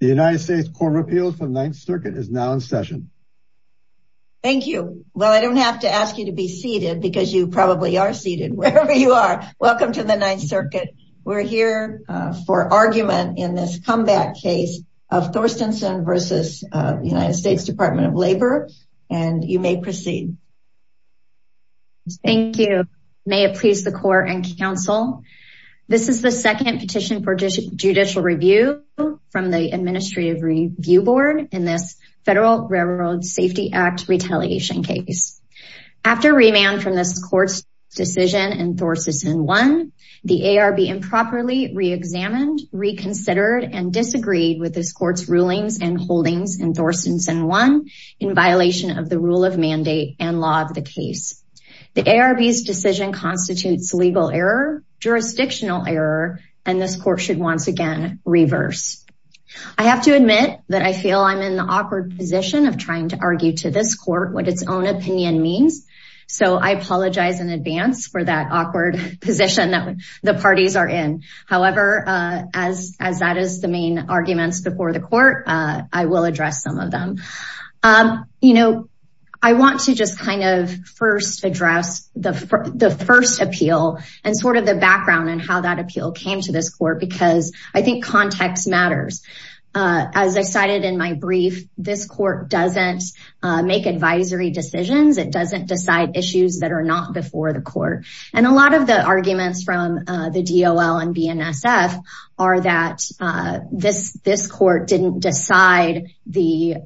The United States Court of Appeals for the Ninth Circuit is now in session. Thank you. Well, I don't have to ask you to be seated because you probably are seated wherever you are. Welcome to the Ninth Circuit. We're here for argument in this comeback case of Thorstenson v. United States Department of Labor, and you may proceed. Thank you. May it please the court and counsel. This is the second petition for judicial review from the Administrative Review Board in this Federal Railroad Safety Act retaliation case. After remand from this court's decision in Thorstenson 1, the ARB improperly reexamined, reconsidered, and disagreed with this court's rulings and holdings in Thorstenson 1 in violation of the rule of mandate and law of the case. The ARB's decision constitutes legal error, jurisdictional error, and this court should once again reverse. I have to admit that I feel I'm in the awkward position of trying to argue to this court what its own opinion means, so I apologize in advance for that awkward position that the parties are in. However, as that is the main the court, I will address some of them. You know, I want to just kind of first address the first appeal and sort of the background and how that appeal came to this court because I think context matters. As I cited in my brief, this court doesn't make advisory decisions. It doesn't decide issues that are not before the court, and a lot of the arguments from the DOL and BNSF are that this court didn't decide the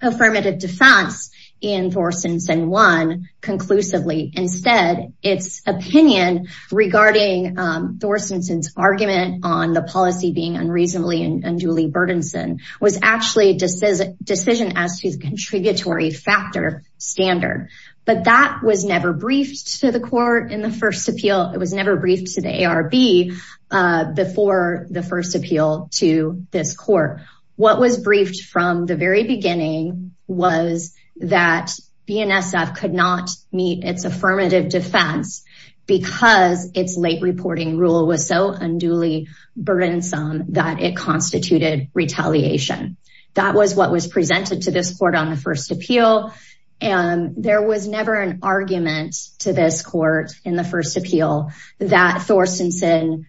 affirmative defense in Thorstenson 1 conclusively. Instead, its opinion regarding Thorstenson's argument on the policy being unreasonably and unduly burdensome was actually a decision as to the contributory factor standard, but that was never briefed to in the first appeal. It was never briefed to the ARB before the first appeal to this court. What was briefed from the very beginning was that BNSF could not meet its affirmative defense because its late reporting rule was so unduly burdensome that it constituted retaliation. That was what was presented to this court on the first appeal, and there was never an argument to this court in the first appeal that Thorstenson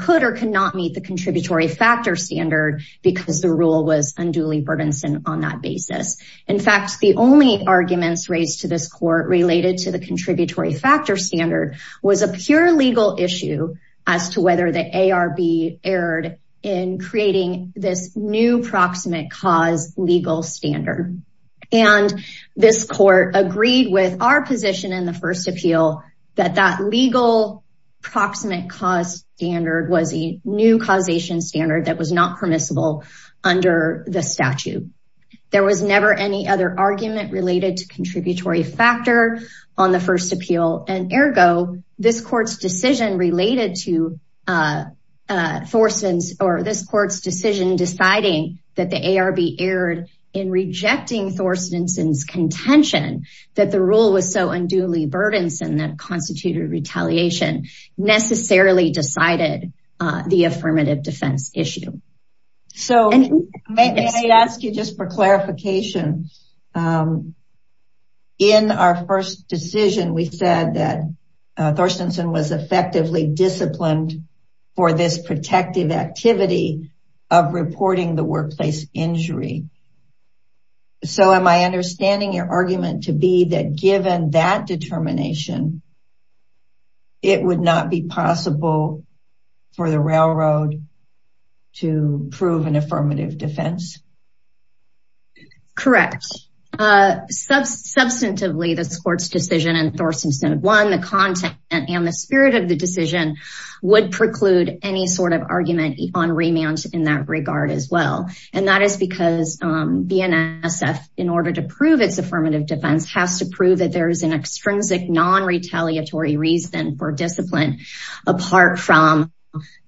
could or could not meet the contributory factor standard because the rule was unduly burdensome on that basis. In fact, the only arguments raised to this court related to the contributory factor standard was a pure legal issue as to whether the ARB erred in creating this new proximate cause legal standard, and this court agreed with our position in the first appeal that that legal proximate cause standard was a new causation standard that was not permissible under the statute. There was never any other argument related to contributory factor on the first appeal, and ergo, this court's decision related to Thorstenson's or this court's decision deciding that the ARB erred in rejecting Thorstenson's contention that the rule was so unduly burdensome that constituted retaliation necessarily decided the affirmative defense issue. So, may I ask you just for clarification? In our first decision, we said that Thorstenson was effectively disciplined for this protective activity of reporting the workplace injury. So, am I understanding your argument to be that given that determination, it would not be possible for the railroad to prove an affirmative defense? Correct. Substantively, this court's decision in Thorstenson, one, the content and the spirit of the decision would preclude any sort of argument on remand in that regard as well, and that is because BNSF, in order to prove its affirmative defense, has to prove that there is an extrinsic non-retaliatory reason for discipline apart from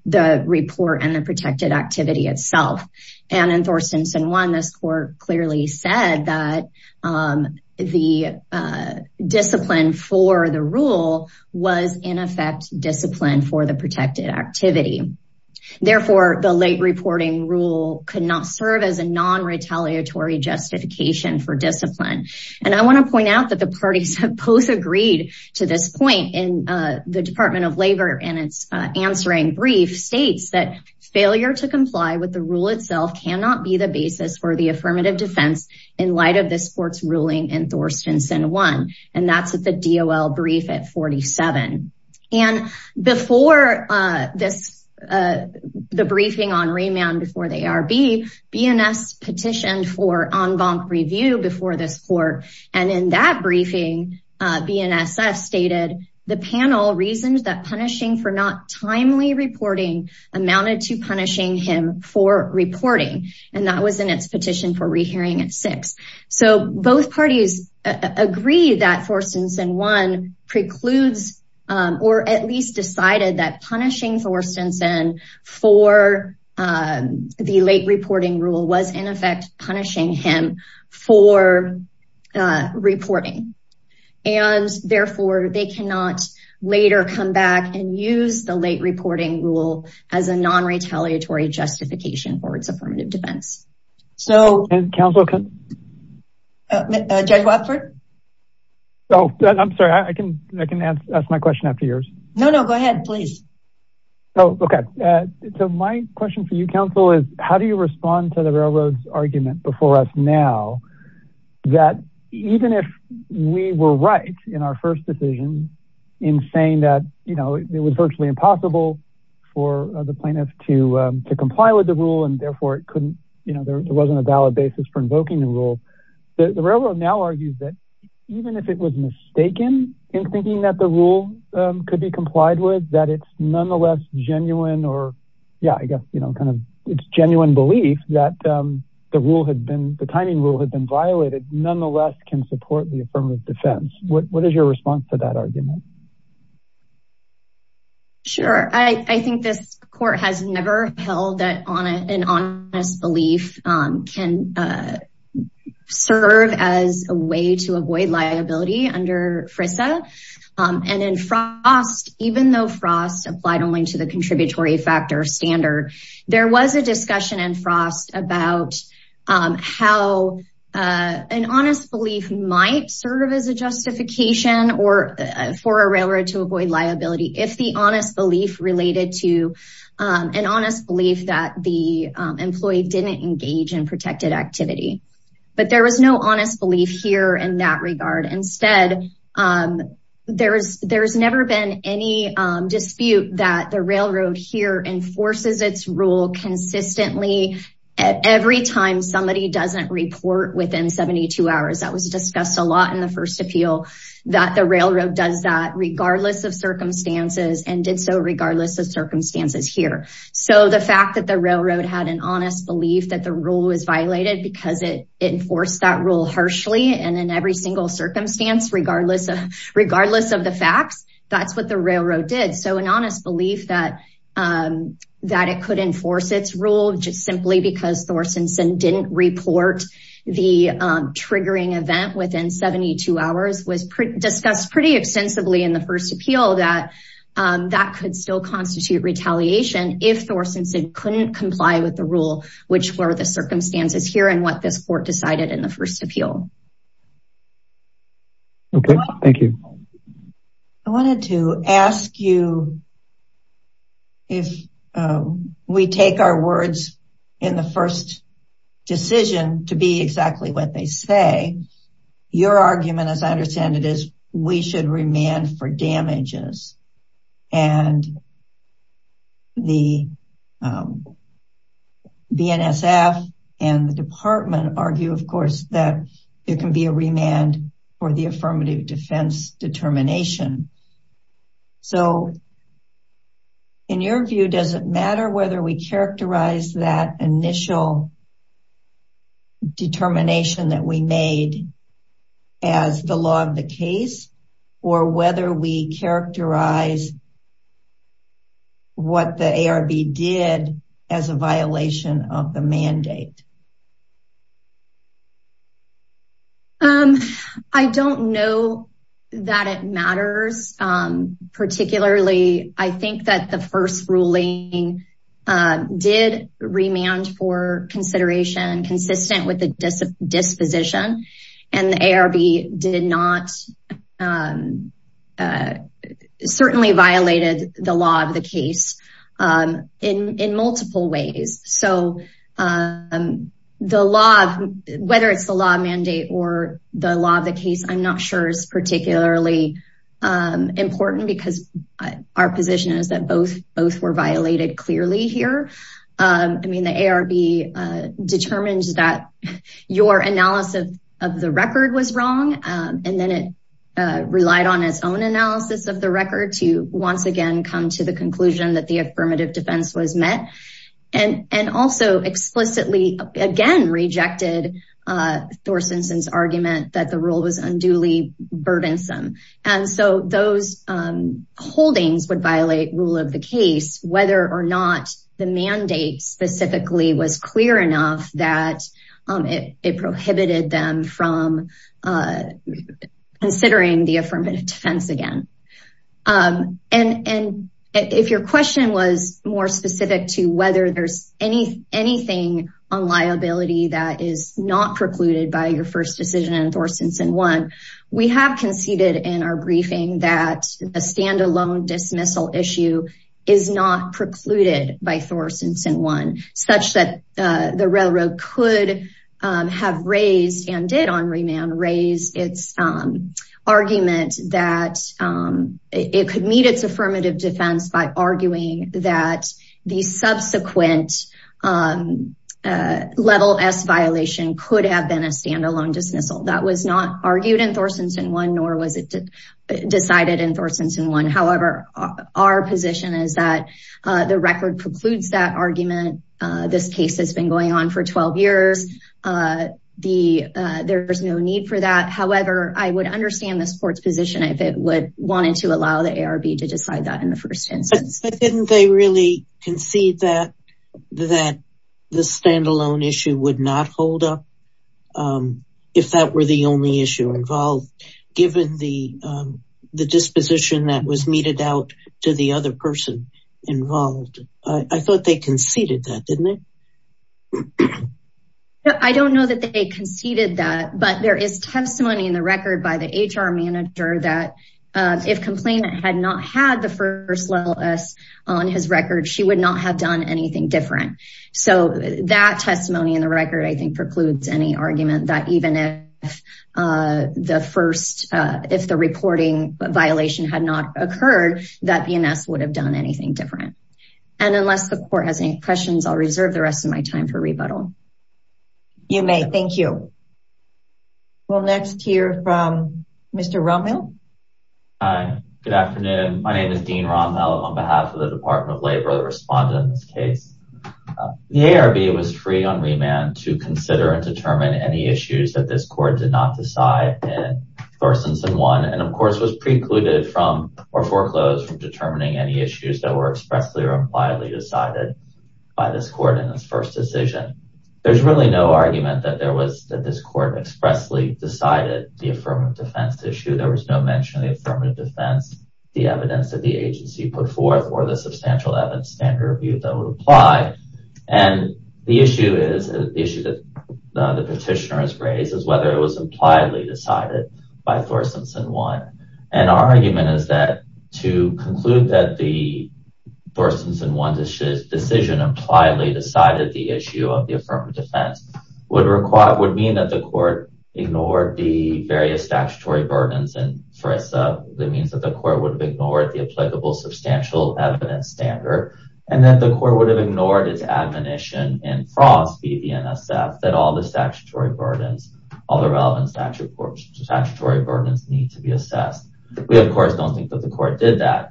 the report and the protected activity itself. And in Thorstenson, one, this court clearly said that the discipline for the rule was, in effect, discipline for the protected activity. Therefore, the late reporting rule could not serve as a non-retaliatory justification for discipline. And I want to point out that the parties have both agreed to this point in the Department of Labor in its answering brief states that failure to comply with the rule itself cannot be the basis for the affirmative defense in light of this court's ruling in Thorstenson, one, and that's at the DOL brief at 47. And before this, the briefing on remand before the ARB, BNSF petitioned for en banc review before this court. And in that briefing, BNSF stated the panel reasons that punishing for not timely reporting amounted to punishing him for reporting. And that was in its petition for rehearing at six. So, both parties agree that Thorstenson, one, precludes or at least decided that punishing Thorstenson for the late reporting rule was, in effect, punishing him for reporting. And therefore, they cannot later come back and use the late reporting rule as a non-retaliatory justification for its affirmative defense. So, Judge Watford? Oh, I'm sorry. I can ask my question after yours. No, no, go ahead, please. Oh, okay. So, my question for you, counsel, is how do you respond to the railroad's argument before now that even if we were right in our first decision in saying that, you know, it was virtually impossible for the plaintiff to comply with the rule and, therefore, it couldn't, you know, there wasn't a valid basis for invoking the rule. The railroad now argues that even if it was mistaken in thinking that the rule could be complied with, that it's nonetheless genuine or, yeah, I guess, you know, kind of, it's genuine belief that the rule had been, the timing rule had been violated, nonetheless can support the affirmative defense. What is your response to that argument? Sure. I think this court has never held that an honest belief can serve as a way to avoid liability under FRISA. And in Frost, even though Frost applied only to the contributory factor standard, there was a discussion in Frost about how an honest belief might serve as a justification or for a railroad to avoid liability if the honest belief related to an honest belief that the Instead, there's never been any dispute that the railroad here enforces its rule consistently at every time somebody doesn't report within 72 hours. That was discussed a lot in the first appeal that the railroad does that regardless of circumstances and did so regardless of circumstances here. So the fact that the railroad had an honest belief that the rule was violated because it enforced that rule harshly and in every single circumstance, regardless of the facts, that's what the railroad did. So an honest belief that it could enforce its rule just simply because Thorsonson didn't report the triggering event within 72 hours was discussed pretty extensively in the first appeal that that could still constitute retaliation if Thorsonson couldn't comply with the rule, which were the circumstances here and what this court decided in the first appeal. Okay, thank you. I wanted to ask you if we take our words in the first decision to be exactly what they say, your argument as I understand it is we should remand for damages and the BNSF and the department argue of course that there can be a remand for the affirmative defense determination. So in your view, does it matter whether we characterize that initial determination that we made as the law of the case or whether we characterize what the ARB did as a violation of the mandate? I don't know that it matters. Particularly, I think that the first ruling did remand for consideration consistent with the disposition and the ARB did not certainly violated the law of the case in multiple ways. So the law, whether it's the law mandate or the law of the case, I'm not sure is particularly important because our position is that both were violated clearly here. I mean the ARB determined that your analysis of the record was wrong and then it relied on its own analysis of the record to once again come to the conclusion that the affirmative defense was met and also explicitly again rejected Thorsonson's argument that the rule was unduly burdensome. And so those holdings would violate rule of the case whether or not the mandate specifically was clear enough that it prohibited them from considering the affirmative defense again. And if your question was more specific to whether there's anything on liability that is not precluded by your first decision in Thorsonson 1, we have conceded in our briefing that a standalone dismissal issue is not precluded by Thorsonson 1 such that the railroad could have raised and did on remand raise its argument that it could meet its affirmative defense by a standalone dismissal. That was not argued in Thorsonson 1 nor was it decided in Thorsonson 1. However, our position is that the record precludes that argument. This case has been going on for 12 years. There's no need for that. However, I would understand the court's position if it would want to allow the ARB to decide that in the first instance. But didn't they really concede that the standalone issue would not hold up if that were the only issue involved, given the disposition that was meted out to the other person involved? I thought they conceded that, didn't they? I don't know that they conceded that, but there is testimony in the record by the HR manager that if complainant had not had the first level S on his record, she would not have anything different. That testimony in the record precludes any argument that even if the reporting violation had not occurred, that BNS would have done anything different. Unless the court has any questions, I'll reserve the rest of my time for rebuttal. You may. Thank you. We'll next hear from Mr. Rommel. Hi. Good afternoon. My name is Dean Rommel. I'm the attorney at law for the BNS case. The ARB was free on remand to consider and determine any issues that this court did not decide in First Instance 1, and of course, was precluded from or foreclosed from determining any issues that were expressly or impliedly decided by this court in this first decision. There's really no argument that this court expressly decided the affirmative defense issue. There was no mention of the affirmative defense, the evidence that the agency put forth, or the substantial evidence standard review that would apply. The issue that the petitioner has raised is whether it was impliedly decided by First Instance 1. Our argument is that to conclude that the First Instance 1 decision impliedly decided the issue of the affirmative defense would mean that the court ignored the statutory burdens in FRISA. It means that the court would have ignored the applicable substantial evidence standard, and that the court would have ignored its admonition in FROS, BDNSF, that all the relevant statutory burdens need to be assessed. We, of course, don't think that the court did that.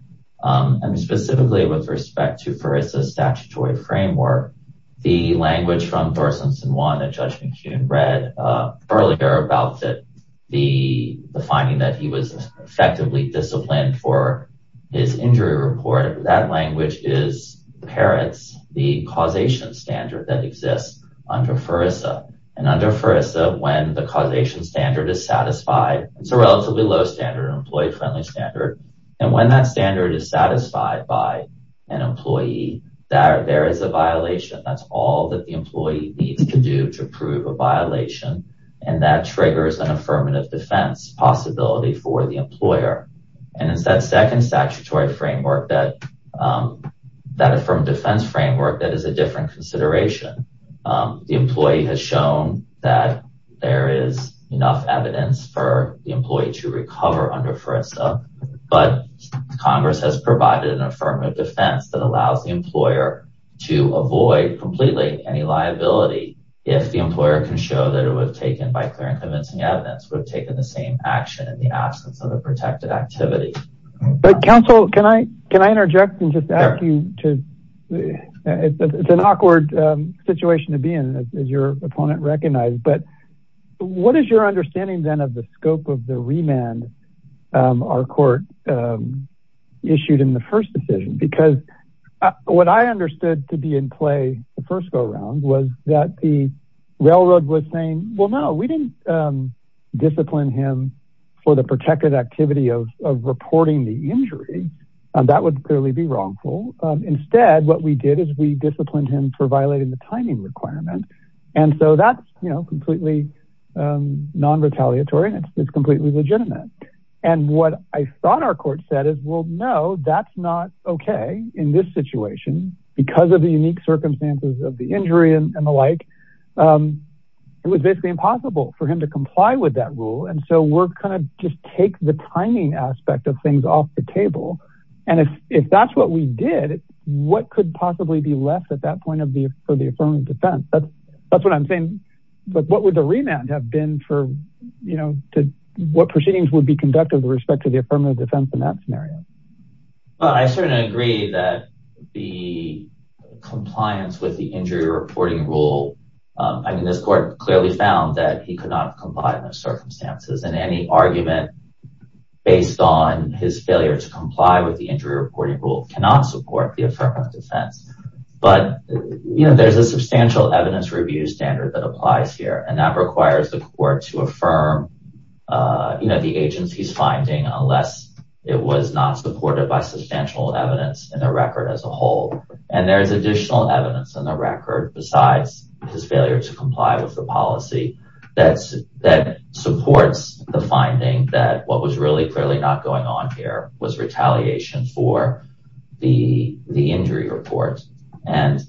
Specifically, with respect to FRISA's statutory framework, the language from the finding that he was effectively disciplined for his injury report, that language is parents, the causation standard that exists under FRISA. Under FRISA, when the causation standard is satisfied, it's a relatively low standard, an employee-friendly standard, and when that standard is satisfied by an employee, there is a violation. That's all the employee needs to do to prove a violation, and that triggers an affirmative defense possibility for the employer. It's that second statutory framework, that affirmative defense framework, that is a different consideration. The employee has shown that there is enough evidence for the employee to recover under FRISA, but Congress has provided an affirmative defense that allows the employer to avoid completely any liability if the employer can show that it was taken by clear and convincing evidence, would have taken the same action in the absence of a protected activity. But counsel, can I interject and just ask you to, it's an awkward situation to be in, as your opponent recognized, but what is your understanding then of the scope of the remand our court issued in the first decision? Because what I understood to be in play the first go-round was that the railroad was saying, well, no, we didn't discipline him for the protected activity of reporting the injury, and that would clearly be wrongful. Instead, what we did is we disciplined him for violating the timing requirement, and so that's completely non-retaliatory, and it's completely legitimate. And what I thought our court said is, well, no, that's not okay in this situation because of the unique circumstances of the injury and the like. It was basically impossible for him to comply with that rule, and so we're going to just take the timing aspect of things off the table. And if that's what we did, what could possibly be left at that point for the affirmative defense? That's what I'm saying, but what would the remand have been for, you know, what proceedings would be conducted with respect to the affirmative defense in that scenario? Well, I certainly agree that the compliance with the injury reporting rule, I mean, this court clearly found that he could not comply in those circumstances, and any argument based on his failure to comply with the injury reporting rule cannot support the affirmative defense. But, you know, there's a substantial evidence review standard that applies here, and that requires the court to affirm, you know, the agency's finding unless it was not supported by substantial evidence in the record as a whole. And there's additional evidence in the record besides his failure to comply with the policy that supports the finding that what was really clearly not going on here was retaliation for the injury report. And,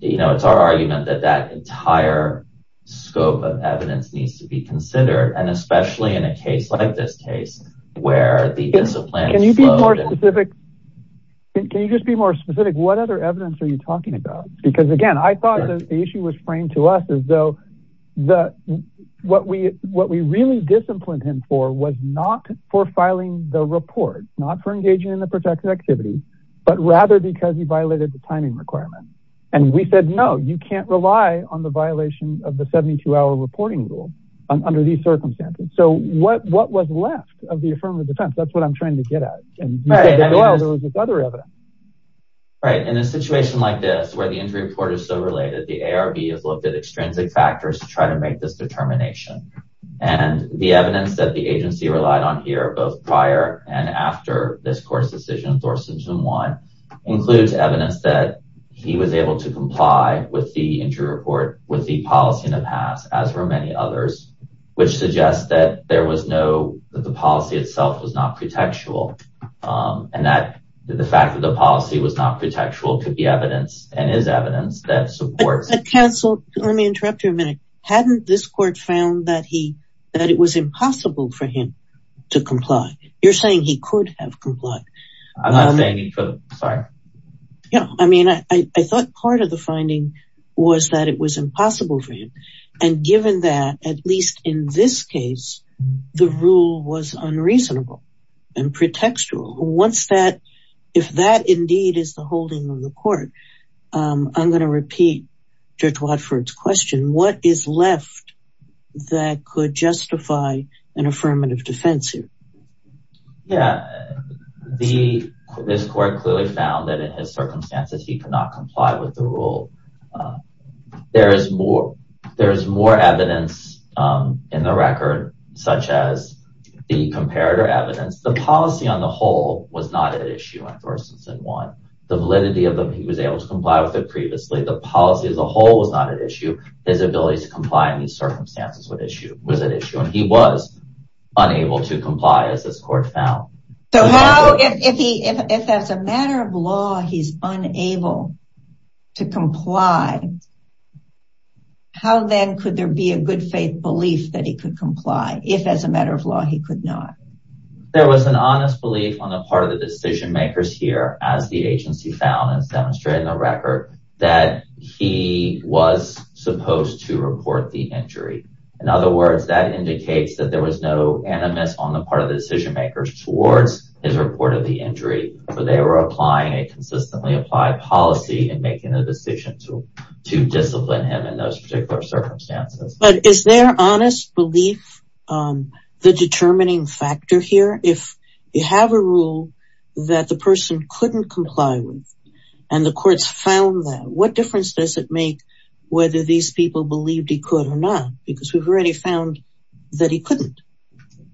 you know, it's our argument that that entire scope of evidence needs to be considered, and especially in a case like this case where the discipline... Can you be more specific? Can you just be more specific? What other evidence are you talking about? Because, again, I thought the issue was framed to us as though what we really disciplined him for was not for filing the report, not for engaging in the protected activity, but rather because he violated the timing requirement. And we said, no, you can't on the violation of the 72-hour reporting rule under these circumstances. So what was left of the affirmative defense? That's what I'm trying to get at. And there was this other evidence. Right. In a situation like this where the injury report is so related, the ARB has looked at extrinsic factors to try to make this determination. And the evidence that the agency relied on here, both prior and after this court's decision, Thorsten Zumwalt, includes evidence that he was with the policy in the past, as were many others, which suggests that there was no, that the policy itself was not protectual. And that the fact that the policy was not protectual could be evidence and is evidence that supports... But counsel, let me interrupt you a minute. Hadn't this court found that he, that it was impossible for him to comply? You're saying he could have complied. I'm not saying he could. Sorry. Yeah. I mean, I thought part of the finding was that it was impossible for him. And given that, at least in this case, the rule was unreasonable and pretextual. Once that, if that indeed is the holding of the court, I'm going to repeat Judge Watford's question. What is left that could justify an affirmative defense here? Yeah. This court clearly found that in his circumstances, he could not comply with the rule. There's more evidence in the record, such as the comparator evidence. The policy on the whole was not at issue in Thorsten Zumwalt. The validity of them, he was able to comply with it previously. The policy as a whole was not at issue. His ability to comply in these circumstances was at issue. And he was unable to comply, as this court found. So how, if that's a matter of law, he's unable to comply, how then could there be a good faith belief that he could comply, if as a matter of law, he could not? There was an honest belief on the part of the decision makers here, as the agency found, as demonstrated in the record, that he was supposed to report the injury. In other words, that indicates that there was no animus on the part of the decision makers towards his report of the injury, for they were applying a consistently applied policy in making the decision to discipline him in those particular circumstances. But is there honest belief, the determining factor here? If you have a rule that the person couldn't comply with, and the courts found that, what difference does it make whether these people he could or not? Because we've already found that he couldn't.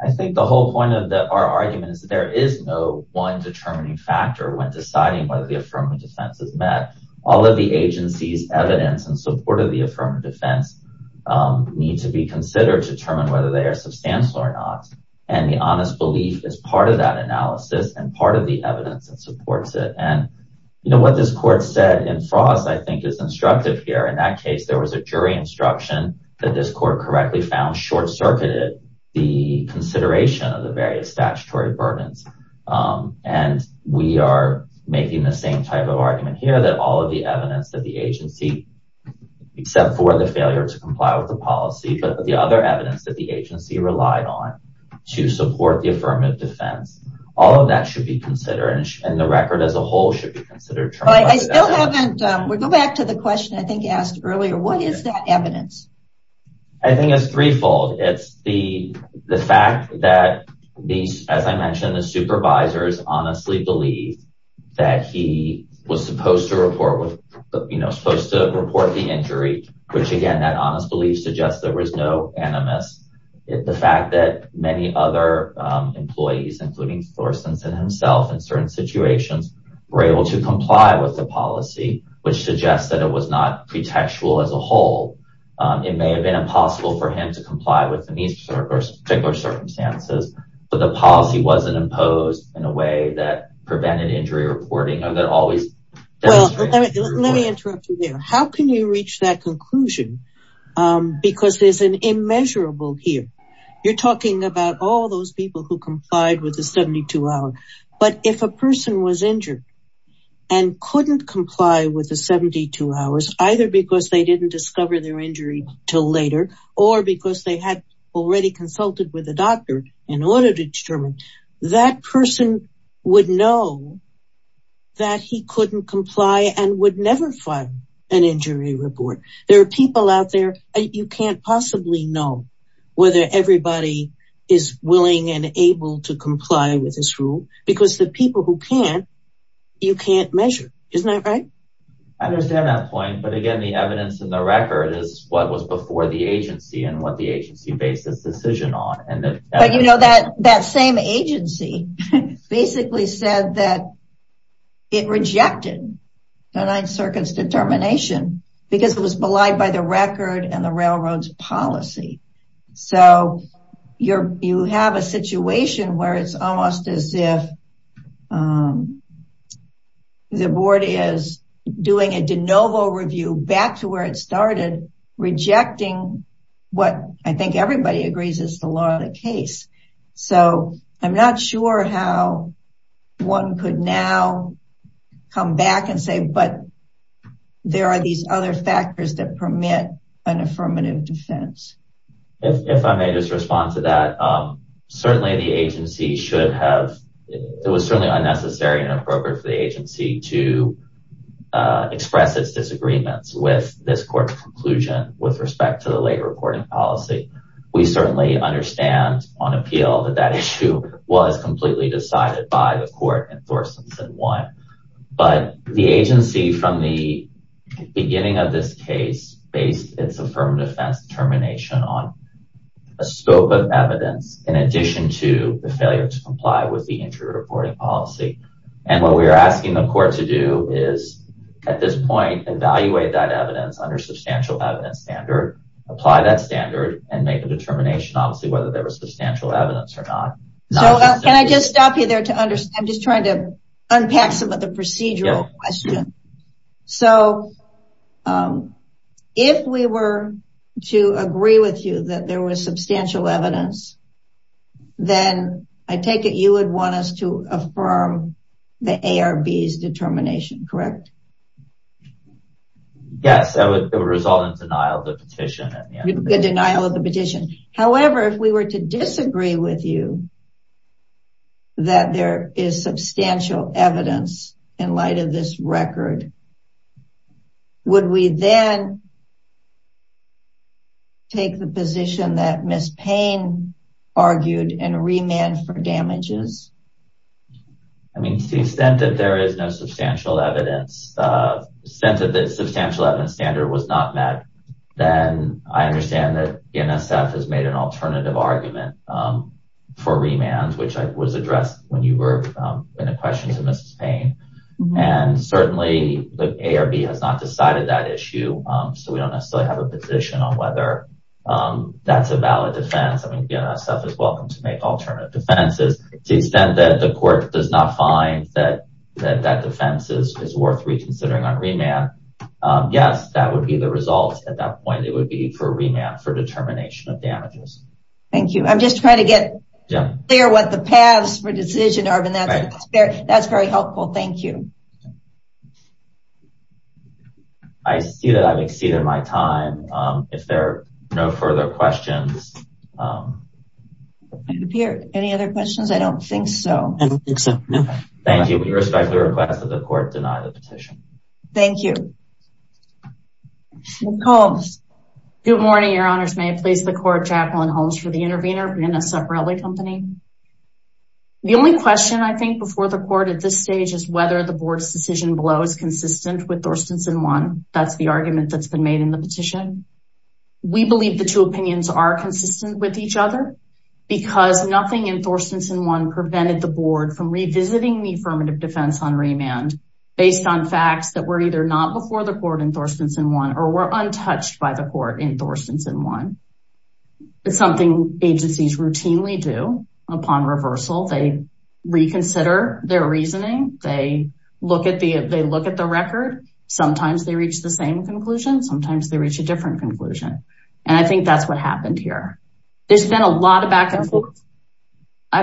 I think the whole point of our argument is that there is no one determining factor when deciding whether the affirmative defense is met. All of the agency's evidence in support of the affirmative defense need to be considered to determine whether they are substantial or not. And the honest belief is part of that analysis and part of the evidence that supports it. And what this court said in Frost, I think, is instructive here. In that case, there was a jury instruction that this court correctly found short-circuited the consideration of the various statutory burdens. And we are making the same type of argument here, that all of the evidence that the agency, except for the failure to comply with the policy, but the other evidence that the agency relied on to support the affirmative defense, all of that should be considered, and the record as a whole should be considered. I still haven't, we'll go back to the question I think you asked earlier, what is that evidence? I think it's threefold. It's the fact that, as I mentioned, the supervisors honestly believe that he was supposed to report the injury, which again, that honest belief suggests there was no animus. The fact that many other employees, including Florcense and himself, in certain circumstances, did not comply with the policy, which suggests that it was not pretextual as a whole. It may have been impossible for him to comply with these particular circumstances, but the policy wasn't imposed in a way that prevented injury reporting. Let me interrupt you there. How can you reach that conclusion? Because there's an immeasurable here. You're talking about all those people who complied with the 72-hour, but if a person was injured, and couldn't comply with the 72 hours, either because they didn't discover their injury till later, or because they had already consulted with a doctor in order to determine, that person would know that he couldn't comply and would never file an injury report. There are people out there, you can't possibly know whether everybody is willing and able to comply with this rule, because the people who can't, you can't measure. Isn't that right? I understand that point, but again, the evidence in the record is what was before the agency and what the agency based its decision on. But you know, that same agency basically said that it rejected the Ninth Circuit's determination, because it was belied by the record and the board is doing a de novo review back to where it started, rejecting what I think everybody agrees is the law of the case. So, I'm not sure how one could now come back and say, but there are these other factors that permit an affirmative defense. If I may just respond to that, certainly the agency should have, it was certainly unnecessary and appropriate for the agency to express its disagreements with this court's conclusion with respect to the late reporting policy. We certainly understand on appeal that that issue was completely decided by the court and Thorson said what, but the agency from the case based its affirmative defense determination on a scope of evidence in addition to the failure to comply with the injury reporting policy. And what we are asking the court to do is at this point, evaluate that evidence under substantial evidence standard, apply that standard and make a determination, obviously, whether there was substantial evidence or not. Can I just stop you there to understand? I'm just trying to If we were to agree with you that there was substantial evidence, then I take it you would want us to affirm the ARB's determination, correct? Yes, that would result in denial of the petition. However, if we were to disagree with you that there is substantial evidence in light of this record, would we then take the position that Ms. Payne argued and remand for damages? I mean, to the extent that there is no substantial evidence, since the substantial evidence standard was not met, then I understand that NSF has made an alternative argument for remand, which was addressed when you were in a question to Ms. Payne. And certainly, the ARB has not decided that issue. So we don't necessarily have a position on whether that's a valid defense. I mean, NSF is welcome to make alternative defenses to the extent that the court does not find that that defense is worth reconsidering on remand. Yes, that would be the result. At that point, it would be for remand for determination of damages. Thank you. I'm just trying to get clear what the paths for decision are. That's very helpful. Thank you. I see that I've exceeded my time. If there are no further questions. Any other questions? I don't think so. I don't think so. Thank you. We respect the request of the court to deny the petition. Thank you. Good morning, Your Honors. May it please the court, Jacqueline Holmes for The Intervener, NSF Raleigh Company. The only question I think before the court at this stage is whether the board's decision below is consistent with Thorstenson 1. That's the argument that's been made in the petition. We believe the two opinions are consistent with each other, because nothing in Thorstenson 1 prevented the board from revisiting the affirmative defense on remand based on facts that were either not before the court in Thorstenson 1 or were untouched by court in Thorstenson 1. It's something agencies routinely do upon reversal. They reconsider their reasoning. They look at the record. Sometimes they reach the same conclusion. Sometimes they reach a different conclusion. I think that's what happened here. There's been a lot of back and forth. I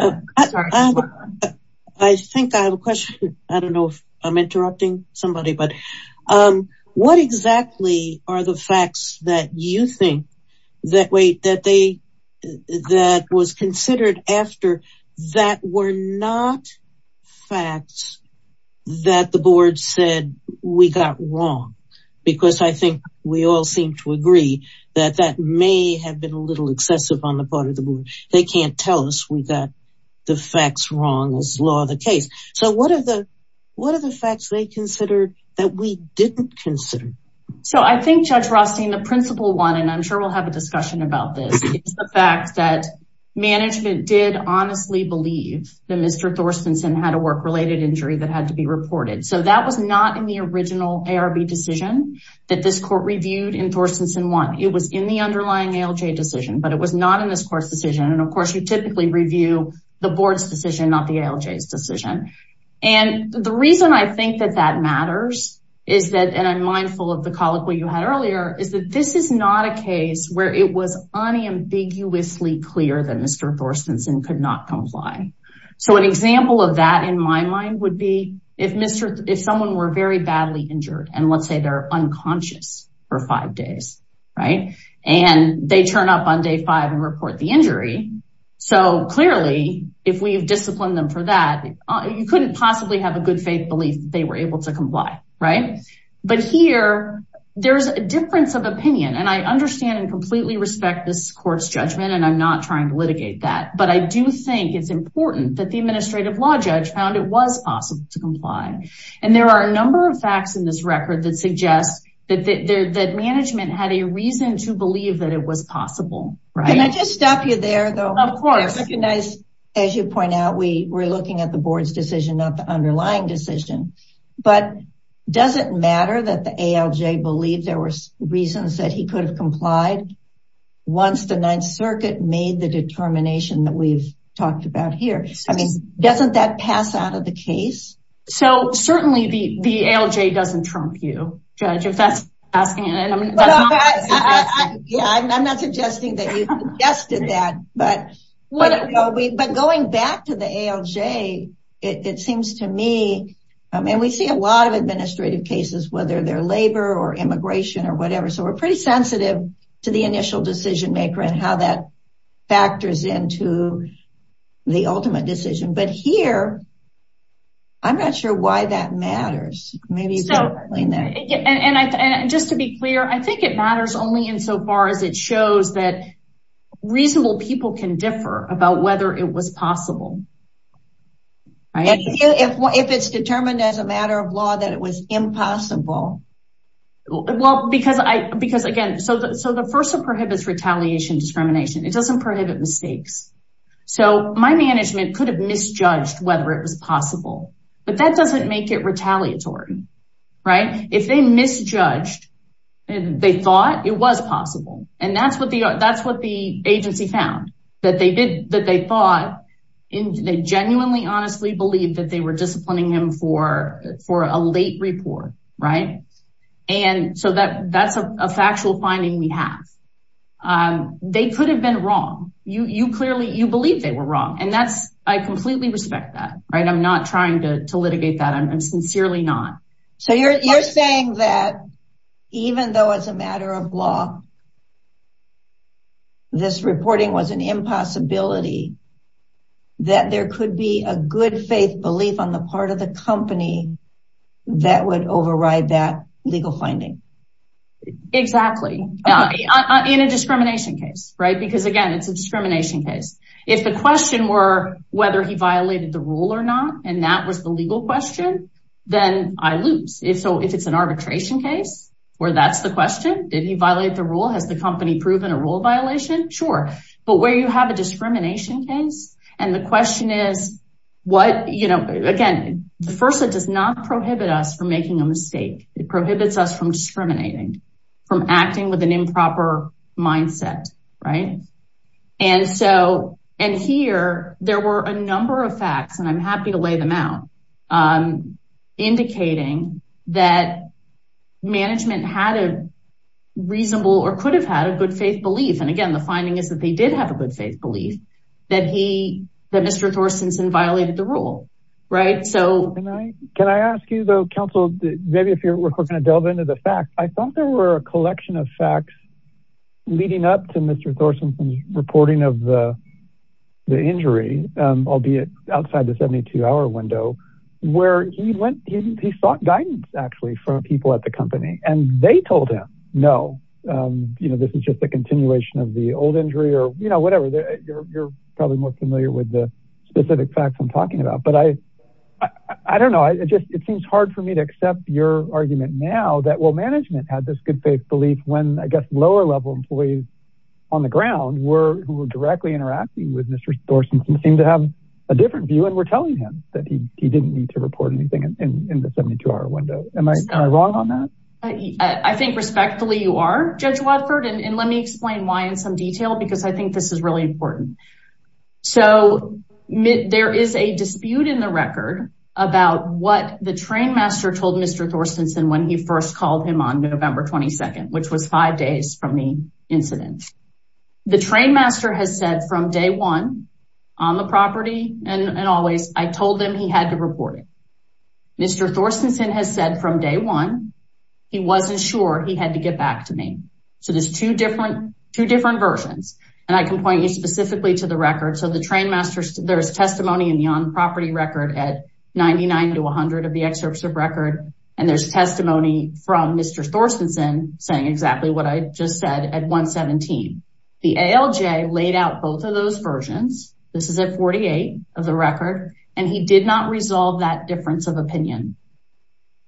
think I have a question. I don't know if I'm interrupting you. You think that what was considered after that were not facts that the board said we got wrong, because I think we all seem to agree that that may have been a little excessive on the part of the board. They can't tell us we got the facts wrong as law of the case. What are the facts they that we didn't consider? I think Judge Rothstein, the principal one, and I'm sure we'll have a discussion about this, is the fact that management did honestly believe that Mr. Thorstenson had a work-related injury that had to be reported. That was not in the original ARB decision that this court reviewed in Thorstenson 1. It was in the underlying ALJ decision, but it was not in this court's decision. Of course, you typically review the board's decision, not the ALJ's decision. The reason I think that that matters, and I'm mindful of the colloquy you had earlier, is that this is not a case where it was unambiguously clear that Mr. Thorstenson could not comply. An example of that in my mind would be if someone were very badly injured, and let's say they're unconscious for five days, and they turn up on day five and report the injury. Clearly, if we've disciplined them for that, you couldn't possibly have a good faith belief that they were able to comply. Here, there's a difference of opinion, and I understand and completely respect this court's judgment, and I'm not trying to litigate that, but I do think it's important that the administrative law judge found it was possible to comply. There are a number of facts in this record that suggest that management had a reason to believe that it was possible. Can I just stop you there, though? Of course. As you point out, we're looking at the board's decision, not the underlying decision, but does it matter that the ALJ believed there were reasons that he could have complied once the Ninth Circuit made the determination that we've talked about here? Doesn't that pass out of the case? Certainly, the ALJ doesn't trump you, Judge. I'm not suggesting that you suggested that, but going back to the ALJ, it seems to me, and we see a lot of administrative cases, whether they're labor or immigration or whatever, so we're pretty sensitive to the initial decision maker and how that factors into the ultimate decision, but here, I'm not sure why that matters. Just to be clear, I think it matters only insofar as it shows that reasonable people can differ about whether it was possible. If it's determined as a matter of law that it was impossible? Well, because, again, the FERSA prohibits retaliation discrimination. It doesn't prohibit mistakes, so my management could have misjudged whether it was possible, but that doesn't make it retaliatory. If they misjudged, they thought it was possible, and that's what the agency found, that they genuinely honestly believed that they were disciplining him for a late report, and so that's a factual finding we have. Um, they could have been wrong. You clearly, you believe they were wrong, and that's, I completely respect that, right? I'm not trying to litigate that. I'm sincerely not. So you're saying that even though it's a matter of law, this reporting was an impossibility, that there could be a good faith belief on the part of the in a discrimination case, right? Because, again, it's a discrimination case. If the question were whether he violated the rule or not, and that was the legal question, then I lose. If so, if it's an arbitration case where that's the question, did he violate the rule? Has the company proven a rule violation? Sure, but where you have a discrimination case, and the question is what, you know, again, the FERSA does not prohibit us from making a mistake. It prohibits us from discriminating, from acting with an improper mindset, right? And so, and here, there were a number of facts, and I'm happy to lay them out, indicating that management had a reasonable or could have had a good faith belief. And again, the finding is that they did have a good faith belief that he, that Mr. Thorstensen violated the rule, right? So- Can I ask you, though, counsel, maybe if we're going to delve into the facts, I thought there were a collection of facts leading up to Mr. Thorstensen's reporting of the injury, albeit outside the 72 hour window, where he went, he sought guidance, actually, from people at the company, and they told him, no, you know, this is just a continuation of the old injury or, you know, whatever, you're probably more familiar with the specific facts I'm talking about, but I don't know, I just, it seems hard for me to accept your argument now that, well, management had this good faith belief when, I guess, lower level employees on the ground were, who were directly interacting with Mr. Thorstensen seemed to have a different view, and were telling him that he didn't need to report anything in the 72 hour window. Am I wrong on that? I think respectfully you are, Judge Watford, and let me explain why in some detail, because I think this is really important. So, there is a dispute in the record about what the train master told Mr. Thorstensen when he first called him on November 22nd, which was five days from the incident. The train master has said from day one, on the property, and always, I told him he had to report it. Mr. Thorstensen has said from day one, he wasn't sure he had to get back to me. So, there's two different versions, and I can point you specifically to the record. So, the train master, there's testimony in the on-property record at 99 to 100 of the excerpts of record, and there's testimony from Mr. Thorstensen saying exactly what I just said at 117. The ALJ laid out both of those versions. This is at 48 of the record, and he did not resolve that difference of opinion.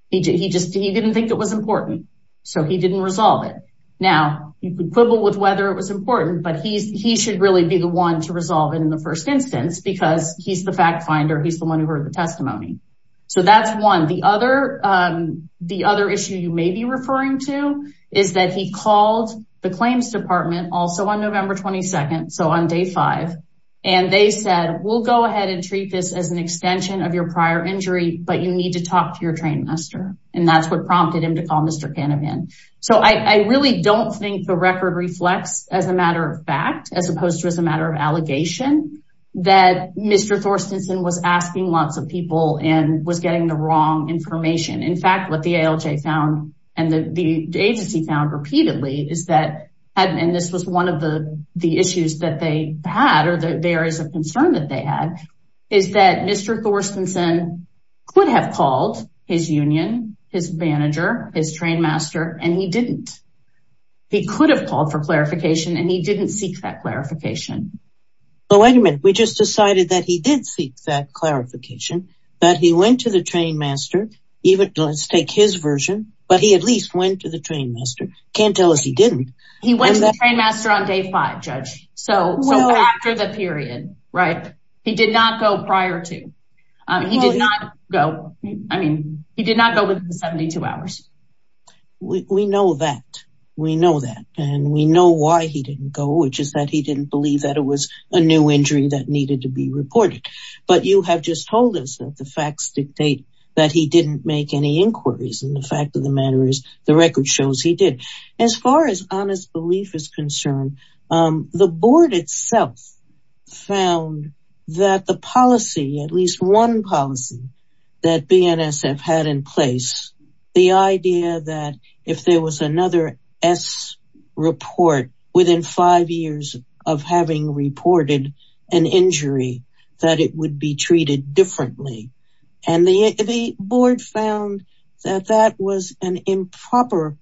He just, he didn't think it was important, so he didn't resolve it. Now, you could quibble with whether it was important, but he should really be the one to resolve it in the first instance because he's the fact finder, he's the one who heard the testimony. So, that's one. The other issue you may be referring to is that he called the claims department also on November 22nd, so on day five, and they said, we'll go ahead and treat this as an extension of your prior injury, but you need to talk to your train master, and that's what the record reflects as a matter of fact, as opposed to as a matter of allegation, that Mr. Thorstensen was asking lots of people and was getting the wrong information. In fact, what the ALJ found and the agency found repeatedly is that, and this was one of the issues that they had or the areas of concern that they had, is that Mr. Thorstensen could have called his union, his manager, his train master, and he didn't. He could have called for clarification, and he didn't seek that clarification. But wait a minute, we just decided that he did seek that clarification, that he went to the train master, even let's take his version, but he at least went to the train master. Can't tell us he didn't. He went to the train master on day five, judge. So after the period, right? He did not go prior to, he did not go, I mean, he did not go within 72 hours. We know that, we know that, and we know why he didn't go, which is that he didn't believe that it was a new injury that needed to be reported. But you have just told us that the facts dictate that he didn't make any inquiries, and the fact of the matter is record shows he did. As far as honest belief is concerned, the board itself found that the policy, at least one policy that BNSF had in place, the idea that if there was another S report within five years of having reported an injury, that it would be treated differently. And the board found that that was an improper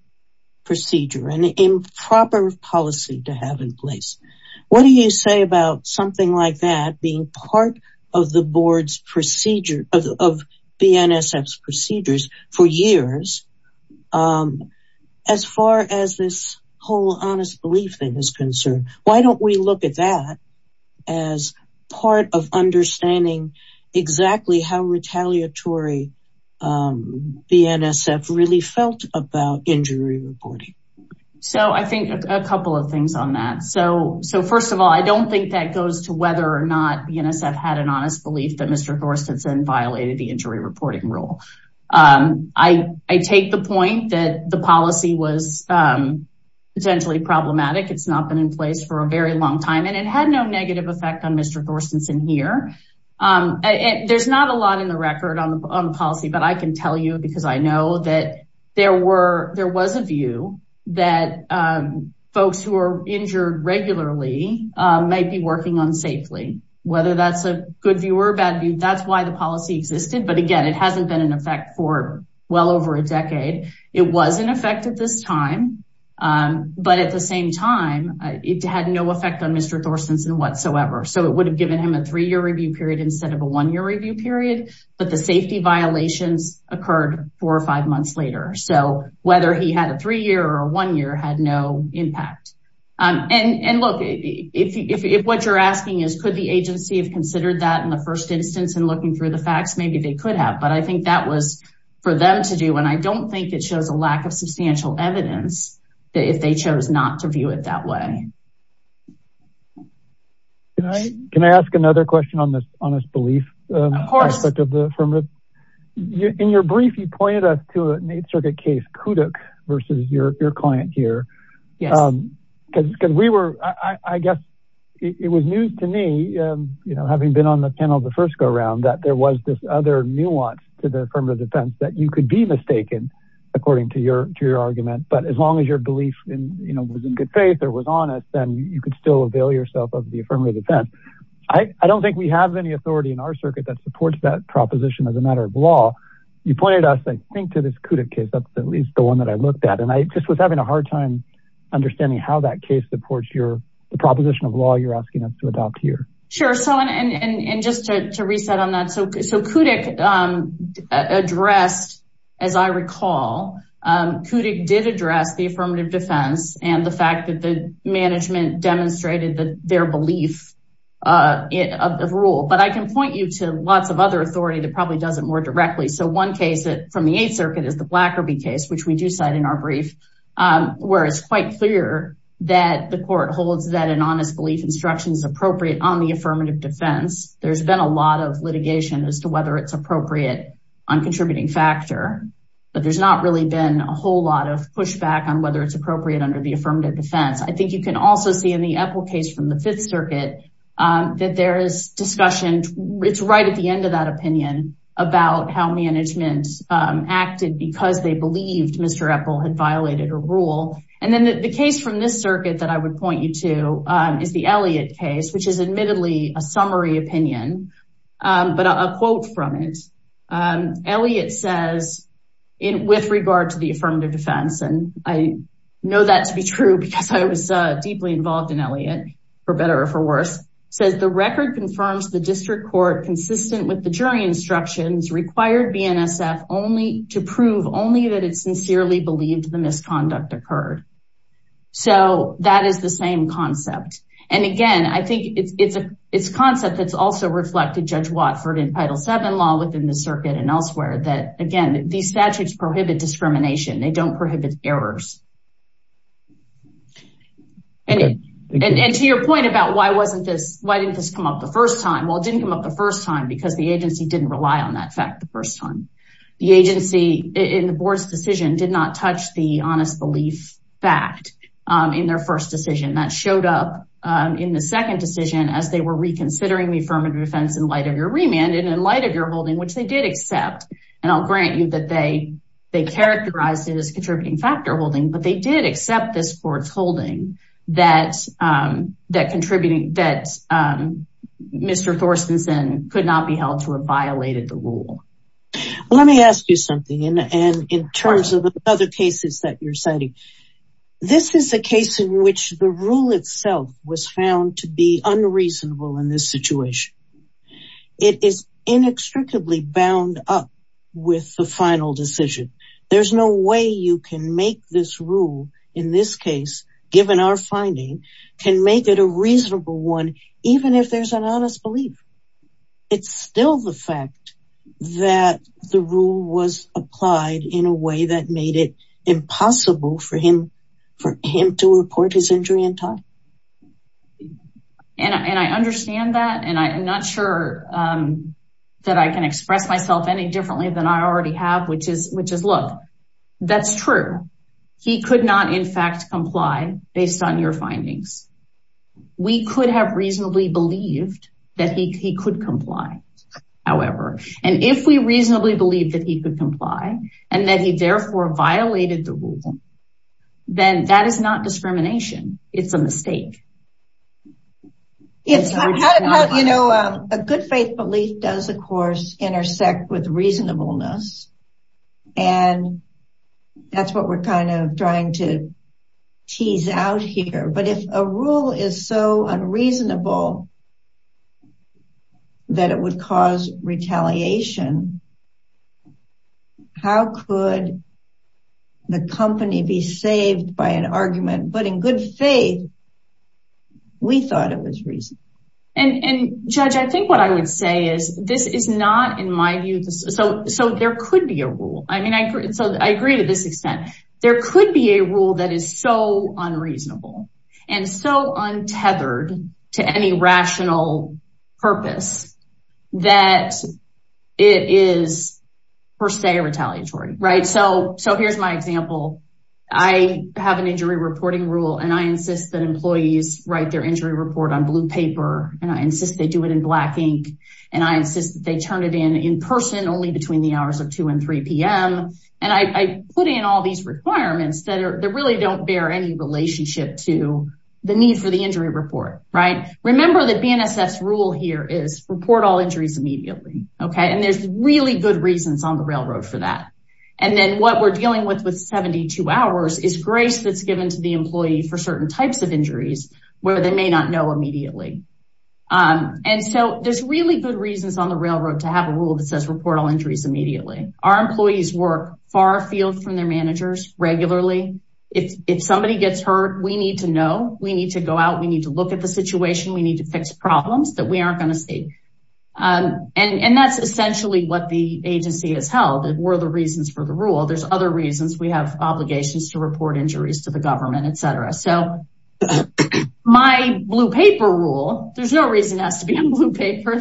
procedure, an improper policy to have in place. What do you say about something like that being part of the board's procedure, of BNSF's procedures for years, as far as this whole honest belief thing is concerned? Why don't we look at that as part of understanding exactly how retaliatory BNSF really felt about injury reporting? So, I think a couple of things on that. So, first of all, I don't think that goes to whether or not BNSF had an honest belief that Mr. Horst had violated the injury reporting rule. I take the point that the policy was potentially problematic. It's not been in place for a very effective effect on Mr. Thorstenson here. There's not a lot in the record on the policy, but I can tell you because I know that there was a view that folks who are injured regularly might be working unsafely. Whether that's a good view or a bad view, that's why the policy existed. But again, it hasn't been in effect for well over a decade. It was in effect at this time, but at the same time, it had no effect on Mr. Thorstenson whatsoever. So, it would have given him a three-year review period instead of a one-year review period, but the safety violations occurred four or five months later. So, whether he had a three-year or one-year had no impact. And look, if what you're asking is could the agency have considered that in the first instance and looking through the facts, maybe they could have, but I think that was for them to do. And I don't think it shows a lack of substantial evidence that if they chose not to view it that way. Can I ask another question on this honest belief aspect of the affirmative? Of course. In your brief, you pointed us to an Eighth Circuit case, Kudyk versus your client here. Yes. Because we were, I guess it was news to me, you know, having been on the panel the first go that there was this other nuance to the affirmative defense that you could be mistaken, according to your argument. But as long as your belief was in good faith or was honest, then you could still avail yourself of the affirmative defense. I don't think we have any authority in our circuit that supports that proposition as a matter of law. You pointed us, I think, to this Kudyk case. That's at least the one that I looked at. And I just was having a hard time understanding how that case supports the proposition of law you're asking us to adopt here. Sure. And just to reset on that, so Kudyk addressed, as I recall, Kudyk did address the affirmative defense and the fact that the management demonstrated their belief of the rule. But I can point you to lots of other authority that probably does it more directly. So one case from the Eighth Circuit is the Blackerby case, which we do cite in our brief, where it's clear that the court holds that an honest belief instruction is appropriate on the affirmative defense. There's been a lot of litigation as to whether it's appropriate on contributing factor. But there's not really been a whole lot of pushback on whether it's appropriate under the affirmative defense. I think you can also see in the Epple case from the Fifth Circuit, that there is discussion. It's right at the end of that opinion about how management acted because they believed Mr. Epple had violated a rule. And then the case from this circuit that I would point you to is the Elliott case, which is admittedly a summary opinion. But a quote from it, Elliott says, in with regard to the affirmative defense, and I know that to be true, because I was deeply involved in Elliott, for better or for worse, says the record confirms the district court consistent with the jury instructions required BNSF only to prove only that it sincerely believed the misconduct occurred. So that is the same concept. And again, I think it's a concept that's also reflected, Judge Watford, in Title VII law within the circuit and elsewhere, that again, these statutes prohibit discrimination, they don't prohibit errors. And to your point about why didn't this come up the first time? Well, it didn't come up the first time because the agency didn't rely on that fact the first time. The agency in the board's decision did not touch the honest belief fact in their first decision. That showed up in the second decision as they were reconsidering the affirmative defense in light of your remand and in light of your holding, which they did accept. And I'll grant you that they characterized it as contributing factor holding, but they did accept this court's holding that Mr. Thorstenson could not be held to have violated the rule. Let me ask you something in terms of other cases that you're citing. This is a case in which the rule itself was found to be unreasonable in this situation. It is inextricably bound up with the final decision. There's no way you can make this rule, in this case, given our finding, can make it a reasonable one, even if there's an honest belief. It's still the fact that the rule was applied in a way that made it impossible for him to report his injury in time. And I understand that, and I'm not sure that I can express myself any differently than I already have, which is, look, that's true. He could not, in fact, comply based on your findings. We could have reasonably believed that he could comply, however. And if we reasonably believed that he could comply and that he therefore violated the rule, then that is not discrimination. It's a mistake. You know, a good faith belief does, of course, intersect with reasonableness. And that's what we're kind of trying to tease out here. But if a rule is so unreasonable that it would cause retaliation, then how could the company be saved by an argument? But in good faith, we thought it was reasonable. And Judge, I think what I would say is, this is not, in my view, so there could be a rule. I mean, so I agree to this extent. There could be a rule that is so unreasonable and so untethered to any rational purpose that it is, per se, retaliatory. So here's my example. I have an injury reporting rule, and I insist that employees write their injury report on blue paper. And I insist they do it in black ink. And I insist that they turn it in in person only between the hours of 2 and 3 p.m. And I put in all these requirements that really don't bear any relationship to the need for the injury report, right? Remember that BNSF's rule here is report all injuries immediately, okay? And there's really good reasons on the railroad for that. And then what we're dealing with with 72 hours is grace that's given to the employee for certain types of injuries where they may not know immediately. And so there's really good reasons on the railroad to have a rule that says report all injuries immediately. Our employees work far afield from We need to go out. We need to look at the situation. We need to fix problems that we aren't going to see. And that's essentially what the agency has held. It were the reasons for the rule. There's other reasons. We have obligations to report injuries to the government, etc. So my blue paper rule, there's no reason it has to be on blue paper.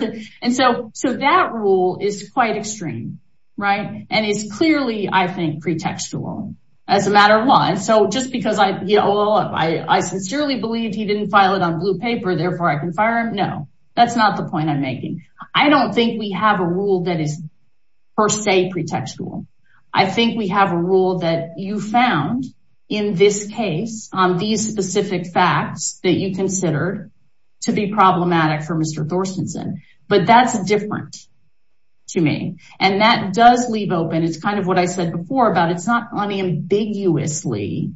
And so that rule is quite extreme, right? And it's clearly, I think, pretextual as a matter of law. And so just because I sincerely believed he didn't file it on blue paper, therefore I can fire him. No, that's not the point I'm making. I don't think we have a rule that is per se pretextual. I think we have a rule that you found in this case on these specific facts that you considered to be problematic for Mr. Thorstenson. But that's different to me. And that does leave open. It's kind of what I said before about it's not unambiguously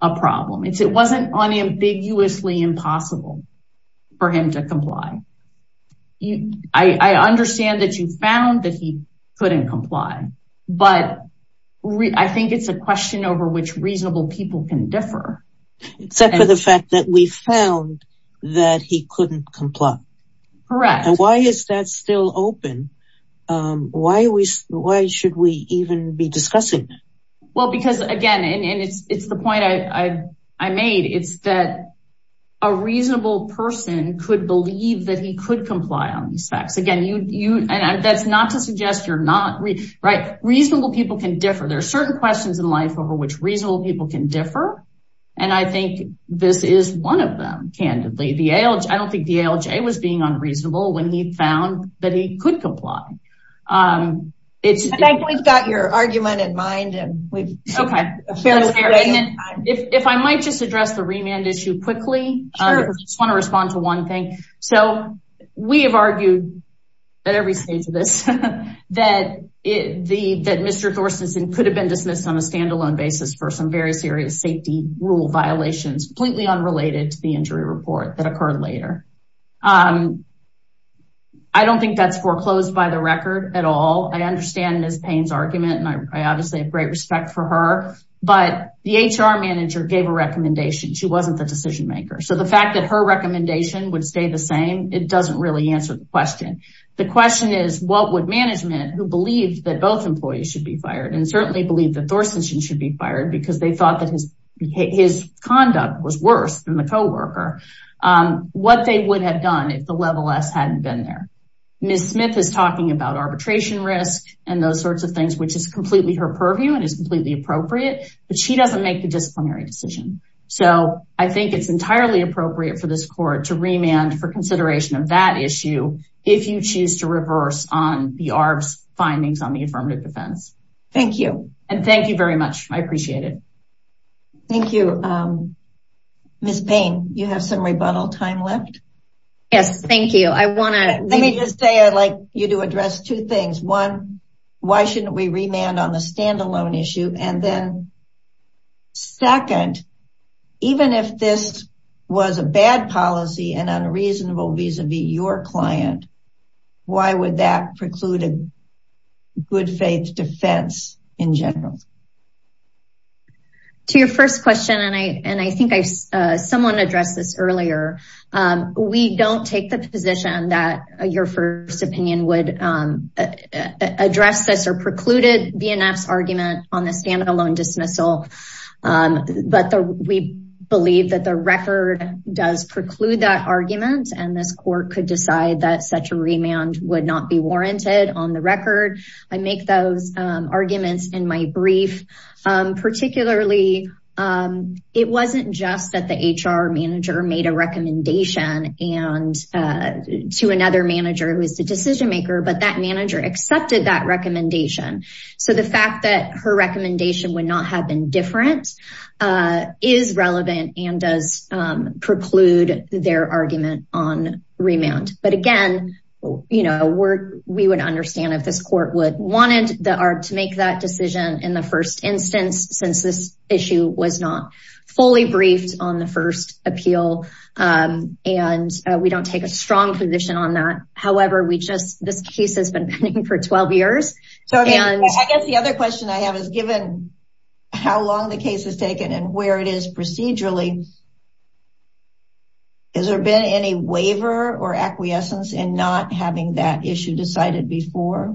a problem. It wasn't unambiguously impossible for him to comply. I understand that you found that he couldn't comply. But I think it's a question over which reasonable people can differ. Except for the fact that we found that he couldn't comply. Correct. And why is that still open? Why should we even be discussing that? Well, because again, and it's the point I made, it's that a reasonable person could believe that he could comply on these facts. Again, that's not to suggest you're not, right? Reasonable people can differ. There are certain questions in life over which reasonable people can differ. And I think this is one of them, candidly. I don't think the ALJ was being unreasonable when he found that he could comply. We've got your argument in mind. If I might just address the remand issue quickly. I just want to respond to one thing. So we have argued at every stage of this that Mr. Thorstenson could have been dismissed on a standalone basis for some very serious safety rule violations completely unrelated to the injury report that occurred later. I don't think that's foreclosed by the record at all. I understand Ms. Payne's argument and I obviously have great respect for her. But the HR manager gave a recommendation. She wasn't the decision maker. So the fact that her recommendation would stay the same, it doesn't really answer the question. The question is, what would management who believed that both employees should be fired and certainly believed that Thorstenson should be fired because they thought that his conduct was worse than the co-worker, what they would have done if the level S hadn't been there. Ms. Smith is talking about arbitration risk and those sorts of things, which is completely her purview and is completely appropriate. But she doesn't make the disciplinary decision. So I think it's entirely appropriate for this court to remand for consideration of that affirmative defense. Thank you. And thank you very much. I appreciate it. Thank you. Ms. Payne, you have some rebuttal time left? Yes, thank you. I want to say I'd like you to address two things. One, why shouldn't we remand on the standalone issue? And then second, even if this was a bad policy and reasonable vis-a-vis your client, why would that preclude a good faith defense in general? To your first question, and I think someone addressed this earlier, we don't take the position that your first opinion would address this or precluded BNF's argument on the standalone dismissal. But we believe that the record does preclude that argument and this court could decide that such a remand would not be warranted on the record. I make those arguments in my brief. Particularly, it wasn't just that the HR manager made a recommendation to another manager who is the decision maker, but that manager accepted that recommendation. So the fact that her recommendation would not have been different is relevant and does preclude their argument on remand. But again, we would understand if this court wanted the ARB to make that decision in the first instance, since this issue was not fully briefed on the first appeal. And we don't take a strong position on that. However, this case has been pending for 12 years. I guess the other question I have is given how long the case has taken and where it is procedurally, has there been any waiver or acquiescence in not having that issue decided before?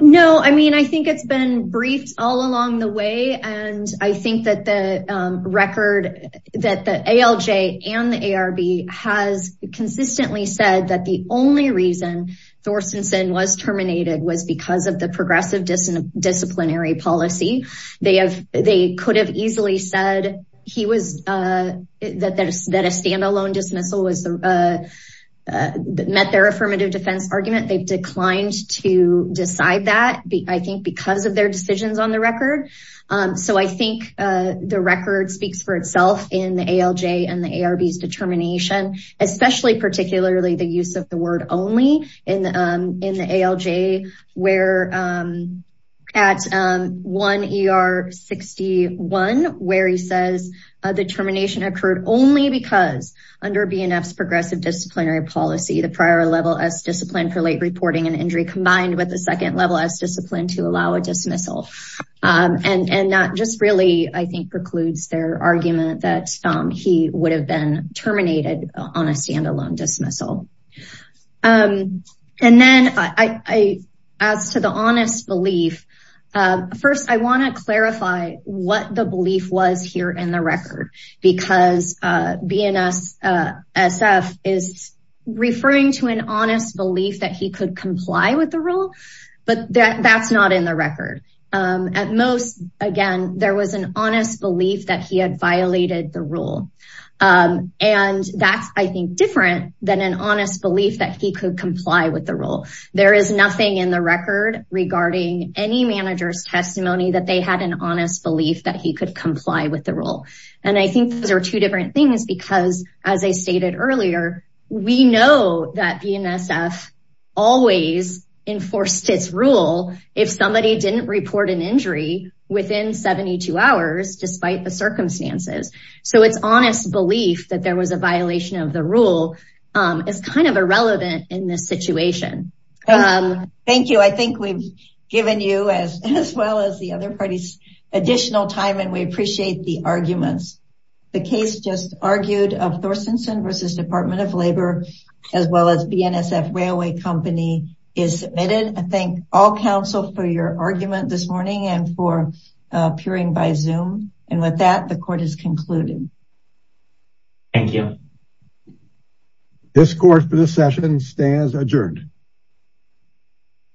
No, I mean, I think it's been briefed all along the way. And I think that the record that the ALJ and the ARB has consistently said that the only reason Thorstensen was terminated was because of the progressive disciplinary policy. They could have easily said that a standalone dismissal met their affirmative defense argument. They've declined to decide that, I think, because of their determination, especially particularly the use of the word only in the ALJ where at 1 ER 61, where he says the termination occurred only because under BNF's progressive disciplinary policy, the prior level S discipline for late reporting and injury combined with the second level S discipline to allow a dismissal. And that just really, I think, precludes their argument that he would have been terminated on a standalone dismissal. And then as to the honest belief, first, I want to clarify what the belief was here in the record, because BNSF is referring to an honest belief that he could comply with the rule, but that's not in the record. At most, again, there was an honest belief that he had violated the rule. And that's, I think, different than an honest belief that he could comply with the rule. There is nothing in the record regarding any manager's testimony that they had an honest belief that he could comply with the rule. And I think those are two different things because as I stated earlier, we know that BNSF always enforced its rule if somebody didn't report an injury within 72 hours, despite the circumstances. So it's honest belief that there was a violation of the rule is kind of irrelevant in this situation. Thank you. I think we've given you as well as the other parties additional time and we appreciate the arguments. The case just argued of Thorstensen versus Department of Labor, as well as BNSF Railway Company is submitted. I thank all counsel for your argument this morning and for appearing by Zoom. And with that, the court is concluded. Thank you. This court for this session stands adjourned.